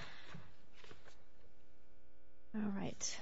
All right.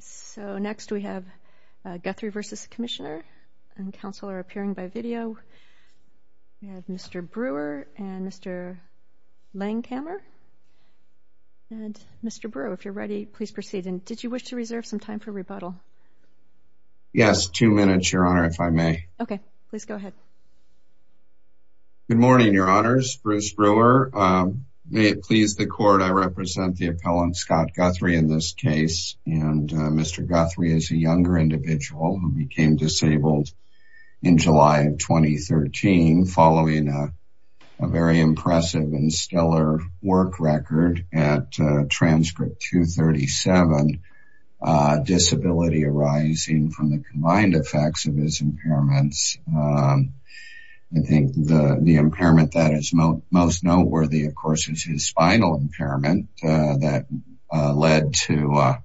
So next we have Guthrie v. Commissioner and Counselor appearing by video. We have Mr. Brewer and Mr. Langhammer. And Mr. Brewer, if you're ready, please proceed. And did you wish to reserve some time for rebuttal? Yes, two minutes, Your Honor, if I may. Okay, please Good morning, Your Honors. Bruce Brewer. May it please the Court, I represent the appellant Scott Guthrie in this case. And Mr. Guthrie is a younger individual who became disabled in July of 2013, following a very impressive and stellar work record at Transcript 237, disability arising from the combined effects of his impairments. I think the impairment that is most noteworthy, of course, is his spinal impairment that led to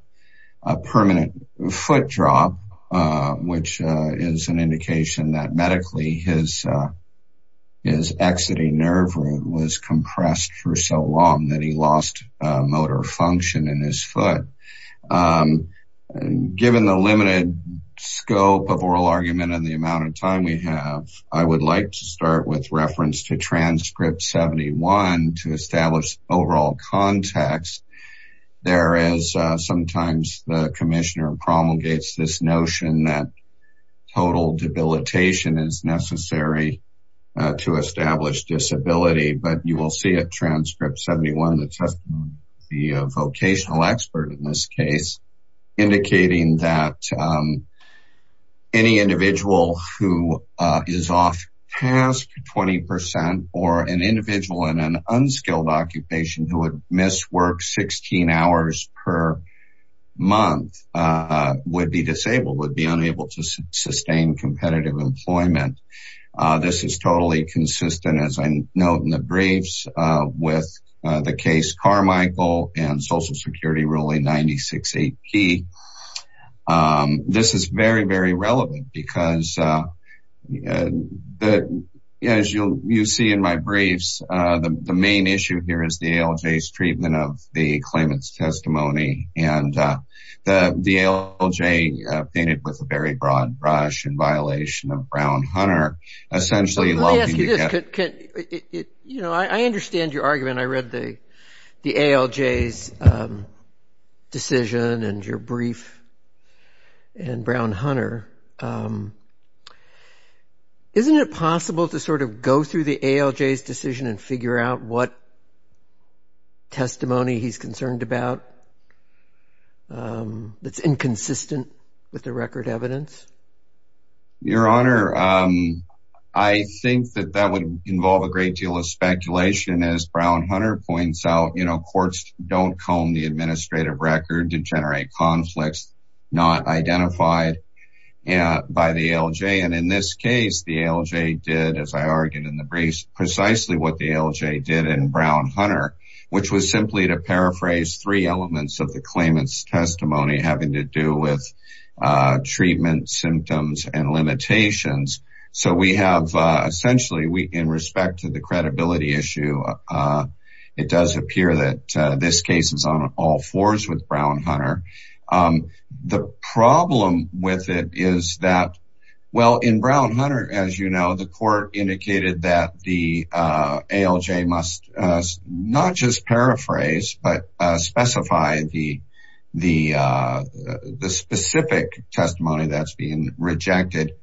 a permanent foot drop, which is an indication that medically his exiting nerve root was compressed for so long that he lost motor function in his foot. Given the limited scope of oral argument and the amount of time we have, I would like to start with reference to Transcript 71 to establish overall context. There is sometimes the Commissioner promulgates this notion that total debilitation is necessary to the vocational expert in this case, indicating that any individual who is off task 20% or an individual in an unskilled occupation who would miss work 16 hours per month, would be disabled would be unable to sustain competitive employment. This is totally consistent, as I note in the Social Security ruling 96 AP. This is very, very relevant, because as you see in my briefs, the main issue here is the ALJ's treatment of the claimant's testimony and the ALJ painted with a very broad brush in violation of Brown-Hunter, essentially loathing the claimant. I understand your argument. I read the ALJ's decision and your brief and Brown-Hunter. Isn't it possible to sort of go through the ALJ's decision and figure out what testimony he's concerned about that's inconsistent with the record evidence? Your Honor, I think that that would involve a great deal of speculation as Brown-Hunter points out, you know, courts don't comb the administrative record to generate conflicts not identified by the ALJ. And in this case, the ALJ did, as I argued in the briefs, precisely what the ALJ did in Brown-Hunter, which was simply to paraphrase three elements of the claimant's testimony having to do with treatment symptoms and limitations. So we have essentially, in respect to the credibility issue, it does appear that this case is on all fours with Brown-Hunter. The ALJ must not just paraphrase, but specify the specific testimony that's being rejected,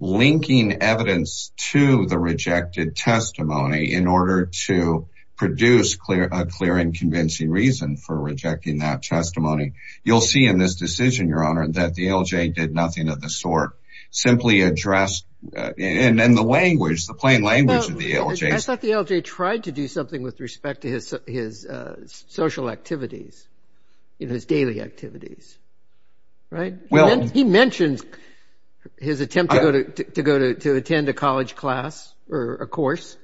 linking evidence to the rejected testimony in order to produce a clear and convincing reason for rejecting that testimony. You'll see in this decision, Your Honor, that the ALJ did nothing of the sort, simply addressed in the language, the plain language of the ALJ. I thought the ALJ tried to do something with respect to his social activities, in his daily activities. Right? Well, He mentioned his attempt to go to attend a college class or a course.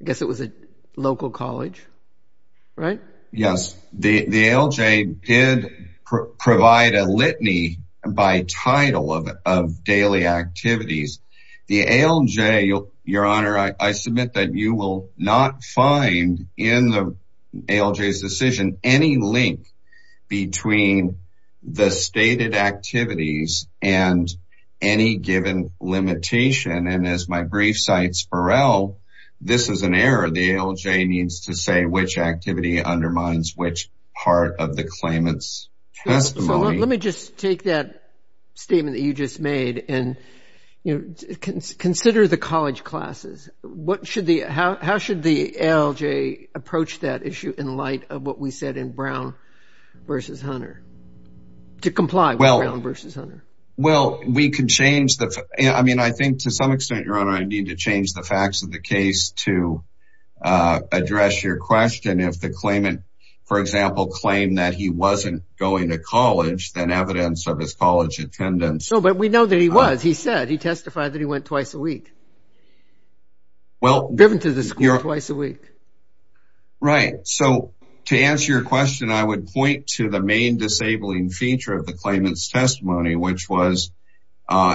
I guess it was a local college. Right? Yes, the ALJ did provide a litany by title of daily activities. The ALJ, Your Honor, I submit that you will not find in the ALJ's decision any link between the stated activities and any given limitation. And as my activity undermines which part of the claimant's testimony, Let me just take that statement that you just made and consider the college classes. What should the, how should the ALJ approach that issue in light of what we said in Brown v. Hunter? To comply with Brown v. Hunter? Well, we could change the, I mean, I think to some extent, Your Honor, I need to change the facts of the question. If the claimant, for example, claimed that he wasn't going to college, then evidence of his college attendance, So, but we know that he was, he said, he testified that he went twice a week. Well, driven to the school twice a week. Right. So to answer your question, I would point to the main disabling feature of the claimant's testimony, which was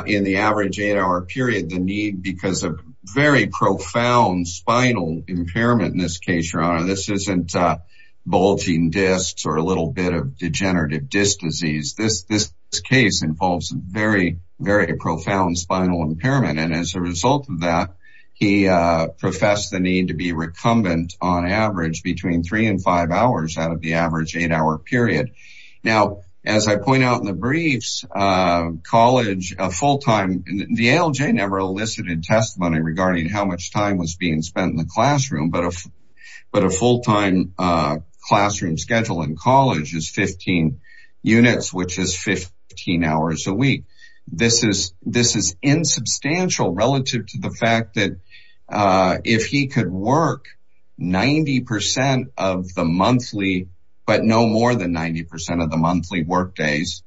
in the average eight hour period, the need because of very profound spinal impairment in this case, Your Honor, this isn't bulging discs or a little bit of degenerative disc disease. This, this case involves very, very profound spinal impairment. And as a result of that, he professed the need to be recumbent on average between three and five hours out of the average eight hour period. Now, as I point out in the briefs, college full time, the ALJ never elicited testimony regarding how much time was being spent in the classroom, but a full time classroom schedule in college is 15 units, which is 15 hours a week. This is this is insubstantial relative to the fact that if he could work 90% of the monthly, but no more than 90% of the monthly workdays,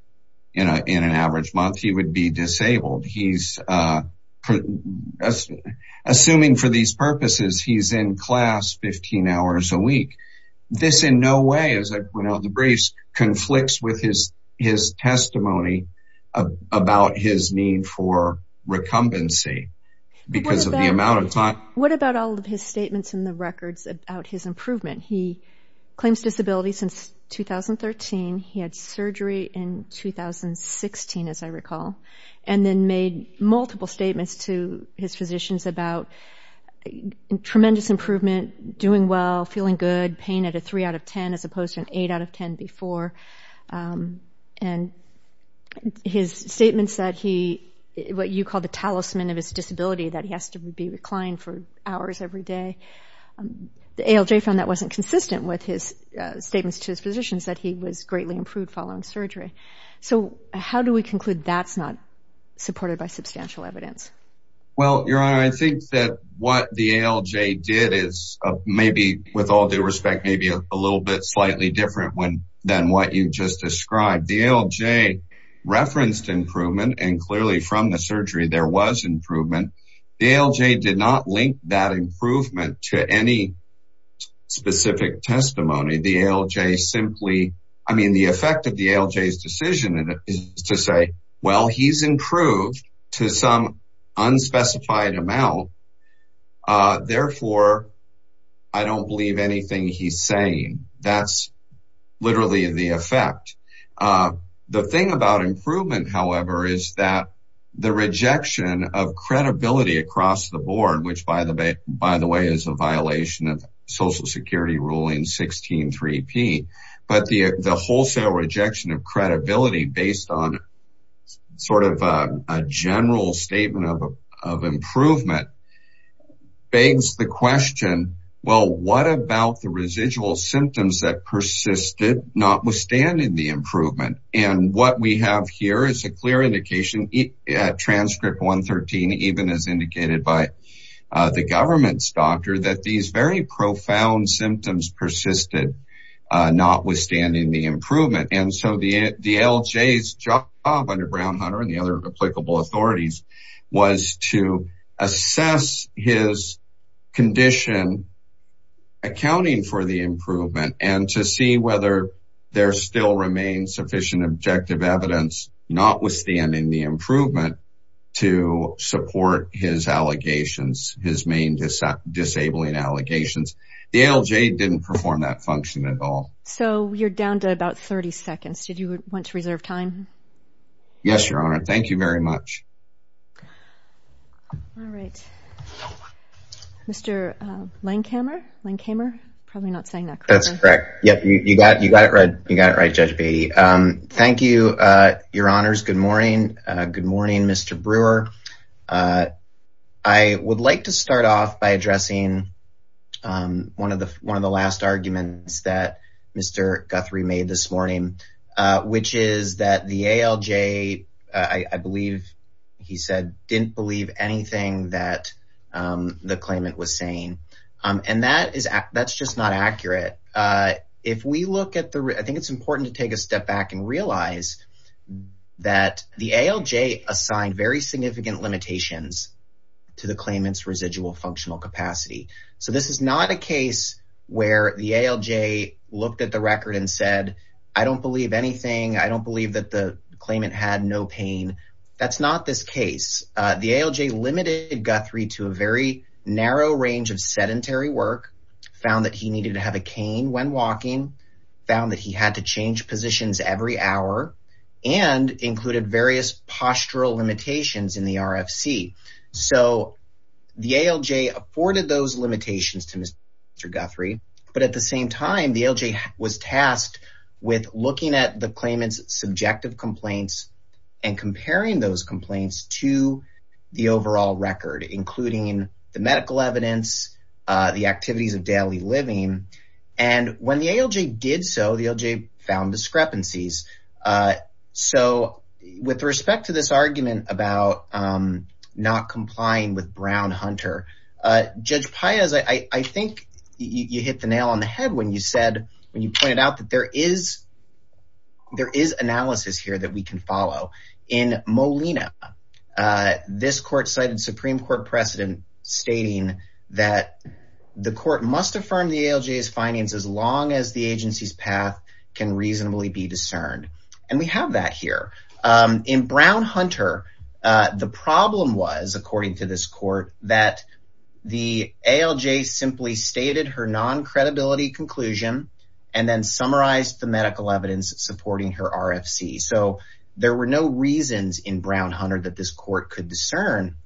you know, in an average month, he would be disabled. He's assuming for these purposes, he's in class 15 hours a week. This in no way, as I point out in the briefs, conflicts with his his testimony about his need for recumbency, because of the amount of time. What about all of his statements in the records about his improvement? He claims disability since 2013. He had surgery in 2016, as I recall, and then made multiple statements to his physicians about tremendous improvement, doing well, feeling good pain at a three out of 10, as opposed to an eight out of 10 before. And his statements that he what you call the talisman of his disability that he has to be reclined for hours every day. The ALJ found that wasn't consistent with his statements to his physicians that he was greatly improved following surgery. So how do we conclude that's not supported by substantial evidence? Well, Your Honor, I think that what the ALJ did is maybe with all due respect, maybe a little bit slightly different when than what you just described, the ALJ referenced improvement. And clearly from the surgery, there was improvement. The ALJ did not link that improvement to any specific testimony, the ALJ simply, I mean, the effect of the ALJ decision is to say, well, he's improved to some specified amount. Therefore, I don't believe anything he's saying. That's literally the effect. The thing about improvement, however, is that the rejection of credibility across the board, which, by the way, by the way, is a violation of Social Security Ruling 163P. But the improvement begs the question, well, what about the residual symptoms that persisted notwithstanding the improvement? And what we have here is a clear indication at transcript 113, even as indicated by the government's doctor that these very profound symptoms persisted notwithstanding the improvement. So the ALJ did not perform that function at all. So you're down to about 30 seconds. Did you want to reserve time? Yes, Your Honor. Thank you very much. All right. Mr. Langhamer, Langhamer, probably not saying that. That's correct. Yeah, you got you got it right. You got it right, Judge Beatty. Thank you, Your Honors. Good morning. Good morning, Mr. Brewer. I would like to start off by addressing one of the one of the last arguments that Mr. Guthrie made this morning, which is that the ALJ, I believe he said, didn't believe anything that the claimant was saying. And that is that's just not accurate. If we look at the I think it's important to take a step back and realize that the ALJ assigned very significant limitations to the claimant's residual functional capacity. So this is not a case where the ALJ looked at the record and said, I don't believe anything. I don't believe that the claimant had no pain. That's not this case. The ALJ limited Guthrie to a very narrow range of sedentary work, found that he needed to have a cane when walking, found that he had to change positions every hour and included various postural limitations in the RFC. So the ALJ afforded those limitations to Mr. Guthrie. But at the same time, the ALJ was tasked with looking at the claimant's subjective complaints and comparing those complaints to the overall record, including the medical evidence, the activities of daily living. And when the ALJ did so, the ALJ found discrepancies. So with respect to this argument about not complying with Brown-Hunter, Judge Paez, I think you hit the nail on the head when you said when you pointed out that there is there is analysis here that we can follow. In Molina, this court cited Supreme Court precedent stating that the court must affirm the ALJ's findings as long as the agency's path can reasonably be discerned. And we have that here. In Brown-Hunter, the problem was, according to this court, that the ALJ simply stated her non-credibility conclusion and then summarized the medical evidence supporting her RFC. So there were no reasons in Brown-Hunter that this court could discern.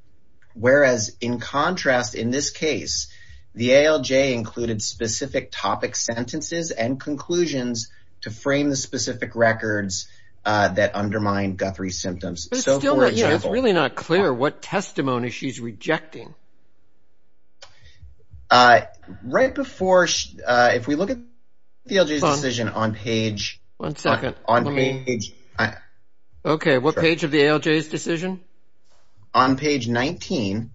Whereas in contrast, in this case, the ALJ included specific topic sentences and conclusions to frame the specific records that undermined Guthrie's symptoms. But it's still really not clear what testimony she's rejecting. Right before, if we look at the ALJ's decision on page... One second. Okay, what page of the ALJ's decision? On page 19,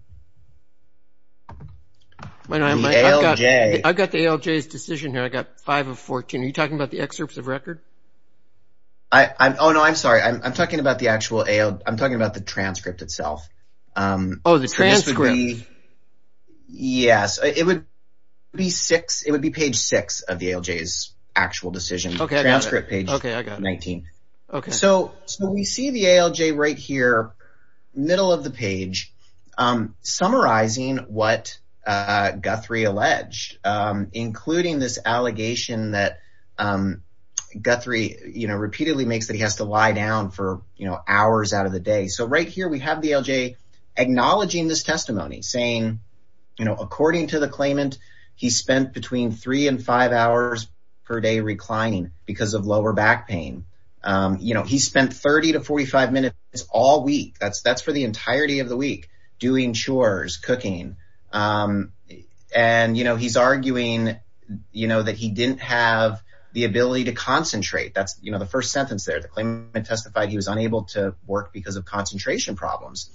the ALJ... I've got the ALJ's decision here. I've got five of 14. Are you talking about the excerpts of record? I'm sorry, I'm talking about the actual ALJ. I'm talking about the transcript itself. Oh, the transcript. Yes, it would be six. It would be page six of the ALJ's actual decision. Okay, I got it. Page 19. Okay. So we see the ALJ right here, middle of the page, summarizing what Guthrie alleged, including this allegation that Guthrie repeatedly makes that he has to lie down for hours out of the day. So right here, we have the ALJ acknowledging this testimony, saying, according to the claimant, he spent between three and five hours per day reclining because of lower back pain. You know, he spent 30 to 45 minutes all week. That's for the entirety of the week, doing chores, cooking. And, you know, he's arguing, you know, that he didn't have the ability to concentrate. That's, you know, the first sentence there. The claimant testified he was unable to work because of concentration problems.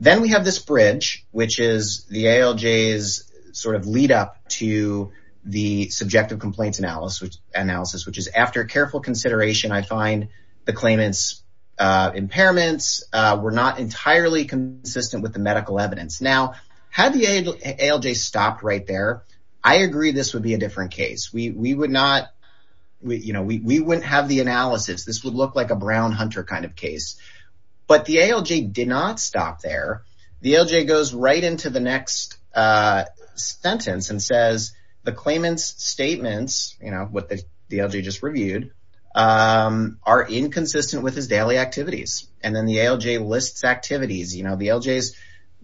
Then we have this bridge, which is the ALJ's sort of lead up to the subjective complaints analysis, which is after careful consideration, I find the claimant's impairments were not entirely consistent with the medical evidence. Now, had the ALJ stopped right there, I agree this would be a different case. We would not, you know, we wouldn't have the analysis. This would look like a Brown Hunter kind of case. But the ALJ did not stop there. The ALJ goes right into the next sentence and says the claimant's statements, you know, what the ALJ just reviewed, are inconsistent with his daily activities. And then the ALJ lists activities. You know, the ALJ's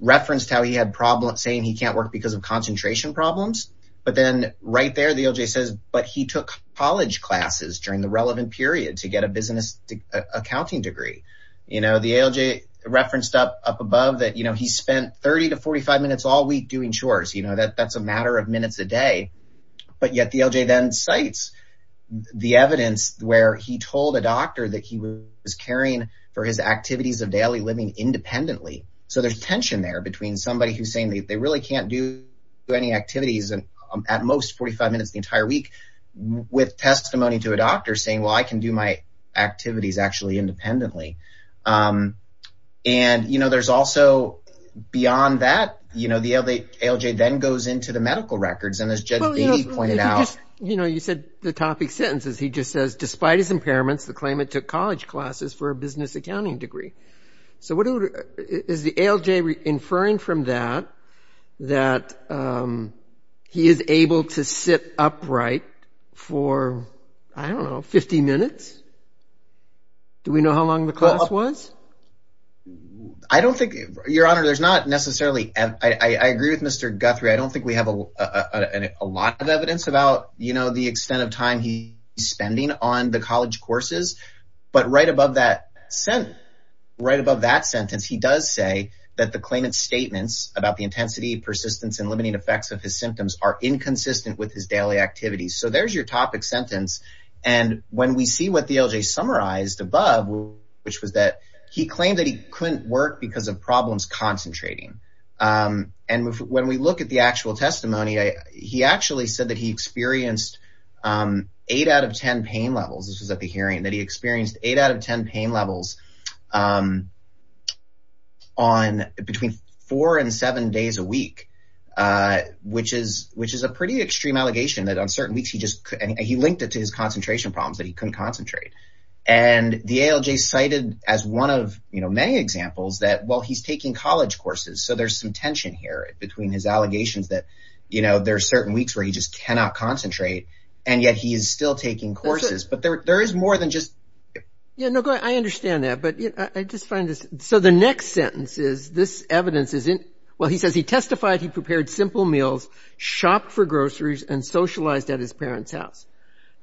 referenced how he had problems saying he can't work because of concentration problems. But then right there, the ALJ says, but he took college classes during the relevant period to get a business accounting degree. You know, the ALJ referenced up above that, you know, he spent 30 to 45 minutes all week doing chores. You know, that's a matter of minutes a day. But yet the ALJ then cites the evidence where he told a doctor that he was caring for his activities of daily living independently. So there's tension there between somebody who's saying that they really can't do any activities at most 45 minutes the entire week with testimony to a doctor saying, well, I can do my activities actually independently. And, you know, there's also beyond that, you know, the ALJ then goes into the medical records and as Judge Beatty pointed out. You know, you said the topic sentences. He just says, despite his impairments, the claimant took college classes for a business accounting degree. So what is the ALJ inferring from that, that he is able to sit upright for, I don't know, 50 minutes? Do we know how long the class was? I don't think, Your Honor, there's not necessarily, I agree with Mr. Guthrie. I don't think we have a lot of evidence about, you know, the extent of time he's spending on the college courses. But right above that sentence, he does say that the claimant's statements about the intensity, persistence and limiting effects of his symptoms are inconsistent with his daily activities. So there's your topic sentence. And when we see what the ALJ summarized above, which was that he claimed that he couldn't work because of problems concentrating. And when we look at the actual testimony, he actually said that he experienced eight out of 10 pain levels. This was at the hearing that he experienced eight out of 10 pain levels on between four and seven days a week, which is which is a pretty extreme allegation that on certain weeks, he just he linked it to his concentration problems that he couldn't concentrate. And the ALJ cited as one of many examples that while he's taking college courses, so there's some tension here between his allegations that, you know, there are certain weeks where he just cannot concentrate. And yet he is still taking courses. But there is more than just. Yeah, no, I understand that. But I just find this. So the next sentence is this evidence is in. Well, he says he testified he prepared simple meals, shopped for groceries and socialized at his parents' house.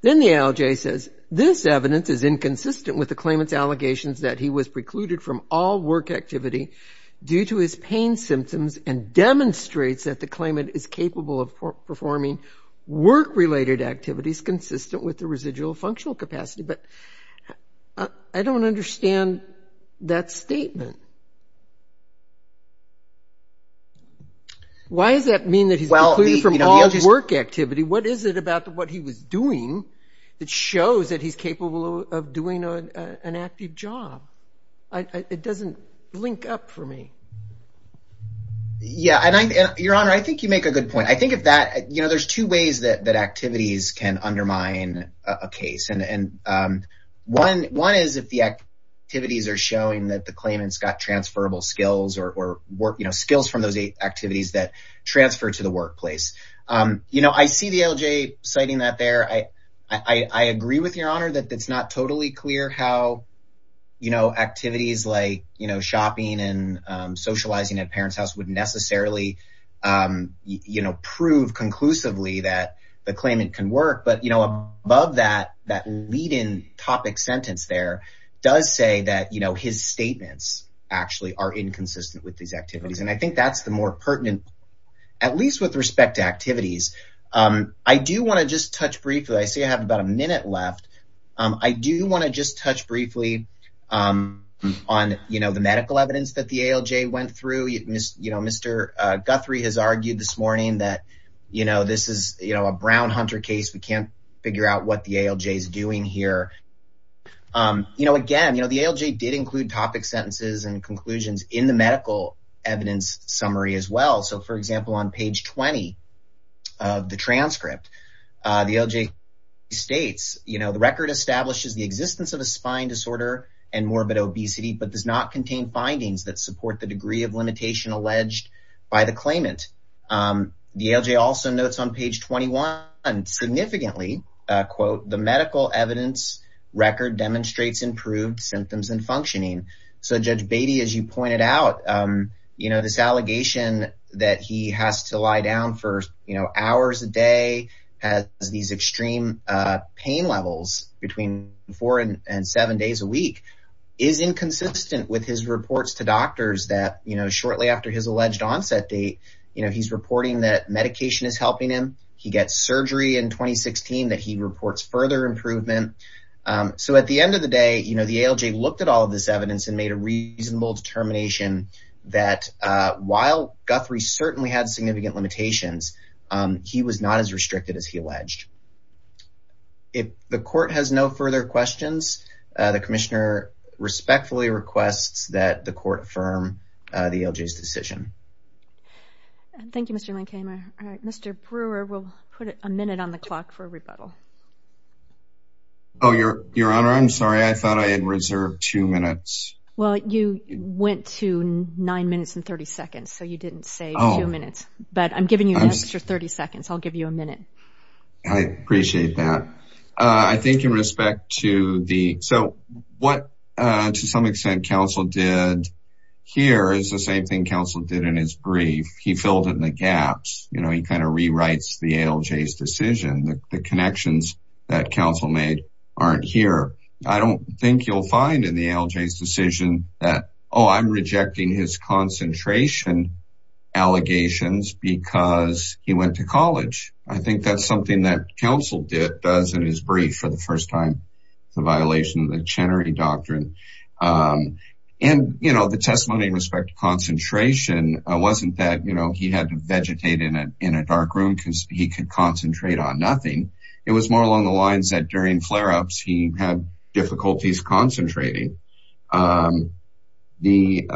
Then the ALJ says this evidence is inconsistent with the claimant's allegations that he was precluded from all work activity due to his pain symptoms and demonstrates that the claimant is capable of performing work related activities consistent with the residual functional capacity. But I don't understand that statement. Why does that mean that he's precluded from all work activity? What is it about what he was doing that shows that he's capable of doing an active job? It doesn't link up for me. Yeah. And your honor, I think you make a good point. I think of that, you know, there's two ways that that activities can undermine a case. And one one is if the activities are showing that the claimants got transferable skills or work skills from those activities that transfer to the workplace. You know, I see the ALJ citing that there. I agree with your honor that it's not totally clear how, you know, activities like, you know, shopping and socializing at parents' house would necessarily, you know, prove conclusively that the claimant can work. But, you know, above that, that lead in topic sentence there does say that, you know, his statements actually are inconsistent with these activities. And I think that's the more pertinent, at least with respect to activities. I do want to just touch briefly. I see I have about a minute left. I do want to just touch briefly on, you know, the medical evidence that the ALJ went through. You know, Mr. Guthrie has argued this morning that, you know, this is a Brown-Hunter case. We can't figure out what the ALJ is doing here. You know, again, you know, the ALJ did include topic sentences and conclusions in the medical evidence summary as well. So, for example, on page 20 of the transcript, the ALJ states, you know, the record establishes the existence of a spine disorder and morbid obesity, but does not contain findings that support the degree of limitation alleged by the claimant. The ALJ also notes on page 21 significantly, quote, the medical evidence record demonstrates improved symptoms and functioning. So, Judge Beatty, as you pointed out, you know, this allegation that he has to lie down for, you know, hours a day has these extreme pain levels between four and seven days a week is inconsistent with his reports to doctors that, you know, shortly after his alleged onset date, you know, he's reporting that medication is helping him. He gets surgery in 2016 that he reports further improvement. So, at the end of the day, you know, the ALJ looked at all of this evidence and made a reasonable determination that while Guthrie certainly had significant limitations, he was not as restricted as he alleged. If the court has no further questions, the commissioner respectfully requests that the court affirm the ALJ's decision. Thank you, Mr. Lankheimer. Mr. Brewer, we'll put a minute on the clock for a rebuttal. Oh, Your Honor, I'm sorry. I thought I had reserved two minutes. Well, you went to nine minutes and 30 seconds, so you didn't save two minutes, but I'm giving you an extra 30 seconds. I'll give you a minute. I appreciate that. I think in respect to the, so what, to some extent, counsel did here is the same thing counsel did in his brief. He filled in the gaps. You know, he kind of rewrites the ALJ's decision. The connections that counsel made aren't here. I don't think you'll find in the ALJ's decision that, oh, I'm rejecting his concentration allegations because he went to college. I think that's something that counsel did, does in his brief for the first time, the violation of the Chenery Doctrine. And, you know, the testimony in respect to concentration wasn't that, you know, he had to vegetate in a dark room because he could concentrate on nothing. It was more along the lines that during flare-ups, he had difficulties concentrating. The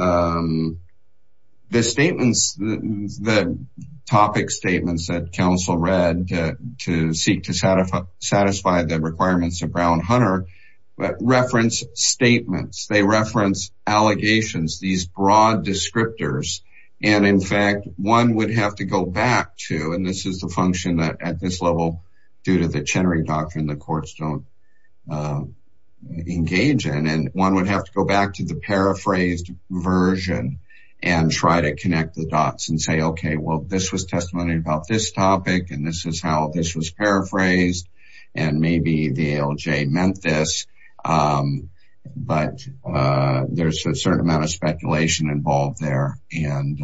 statements, the topic statements that counsel read to seek to satisfy the requirements of Brown-Hunter reference statements. They reference allegations, these broad descriptors. And in fact, one would have to go back to, and this is the function that at this level, due to the Chenery Doctrine, the courts don't engage in. And one would have to go back to the paraphrased version and try to connect the dots and say, OK, well, this was testimony about this topic. And this is how this was paraphrased. And maybe the ALJ meant this, but there's a certain amount of speculation involved there. And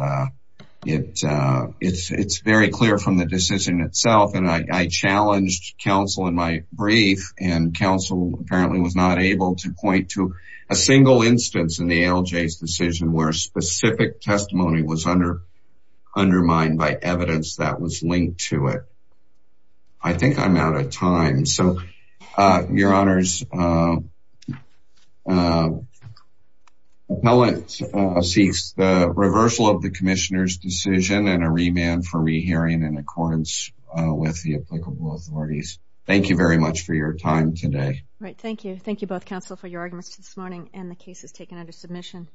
it's very clear from the decision itself. And I challenged counsel in my brief, and counsel apparently was not able to point to a single instance in the ALJ's decision where specific testimony was undermined by evidence that was linked to it. I think I'm out of time. So, Your Honors, the appellant seeks the reversal of the commissioner's decision and a remand for rehearing in accordance with the applicable authorities. Thank you very much for your time today. Right. Thank you. Thank you both, counsel, for your arguments this morning and the cases taken under submission.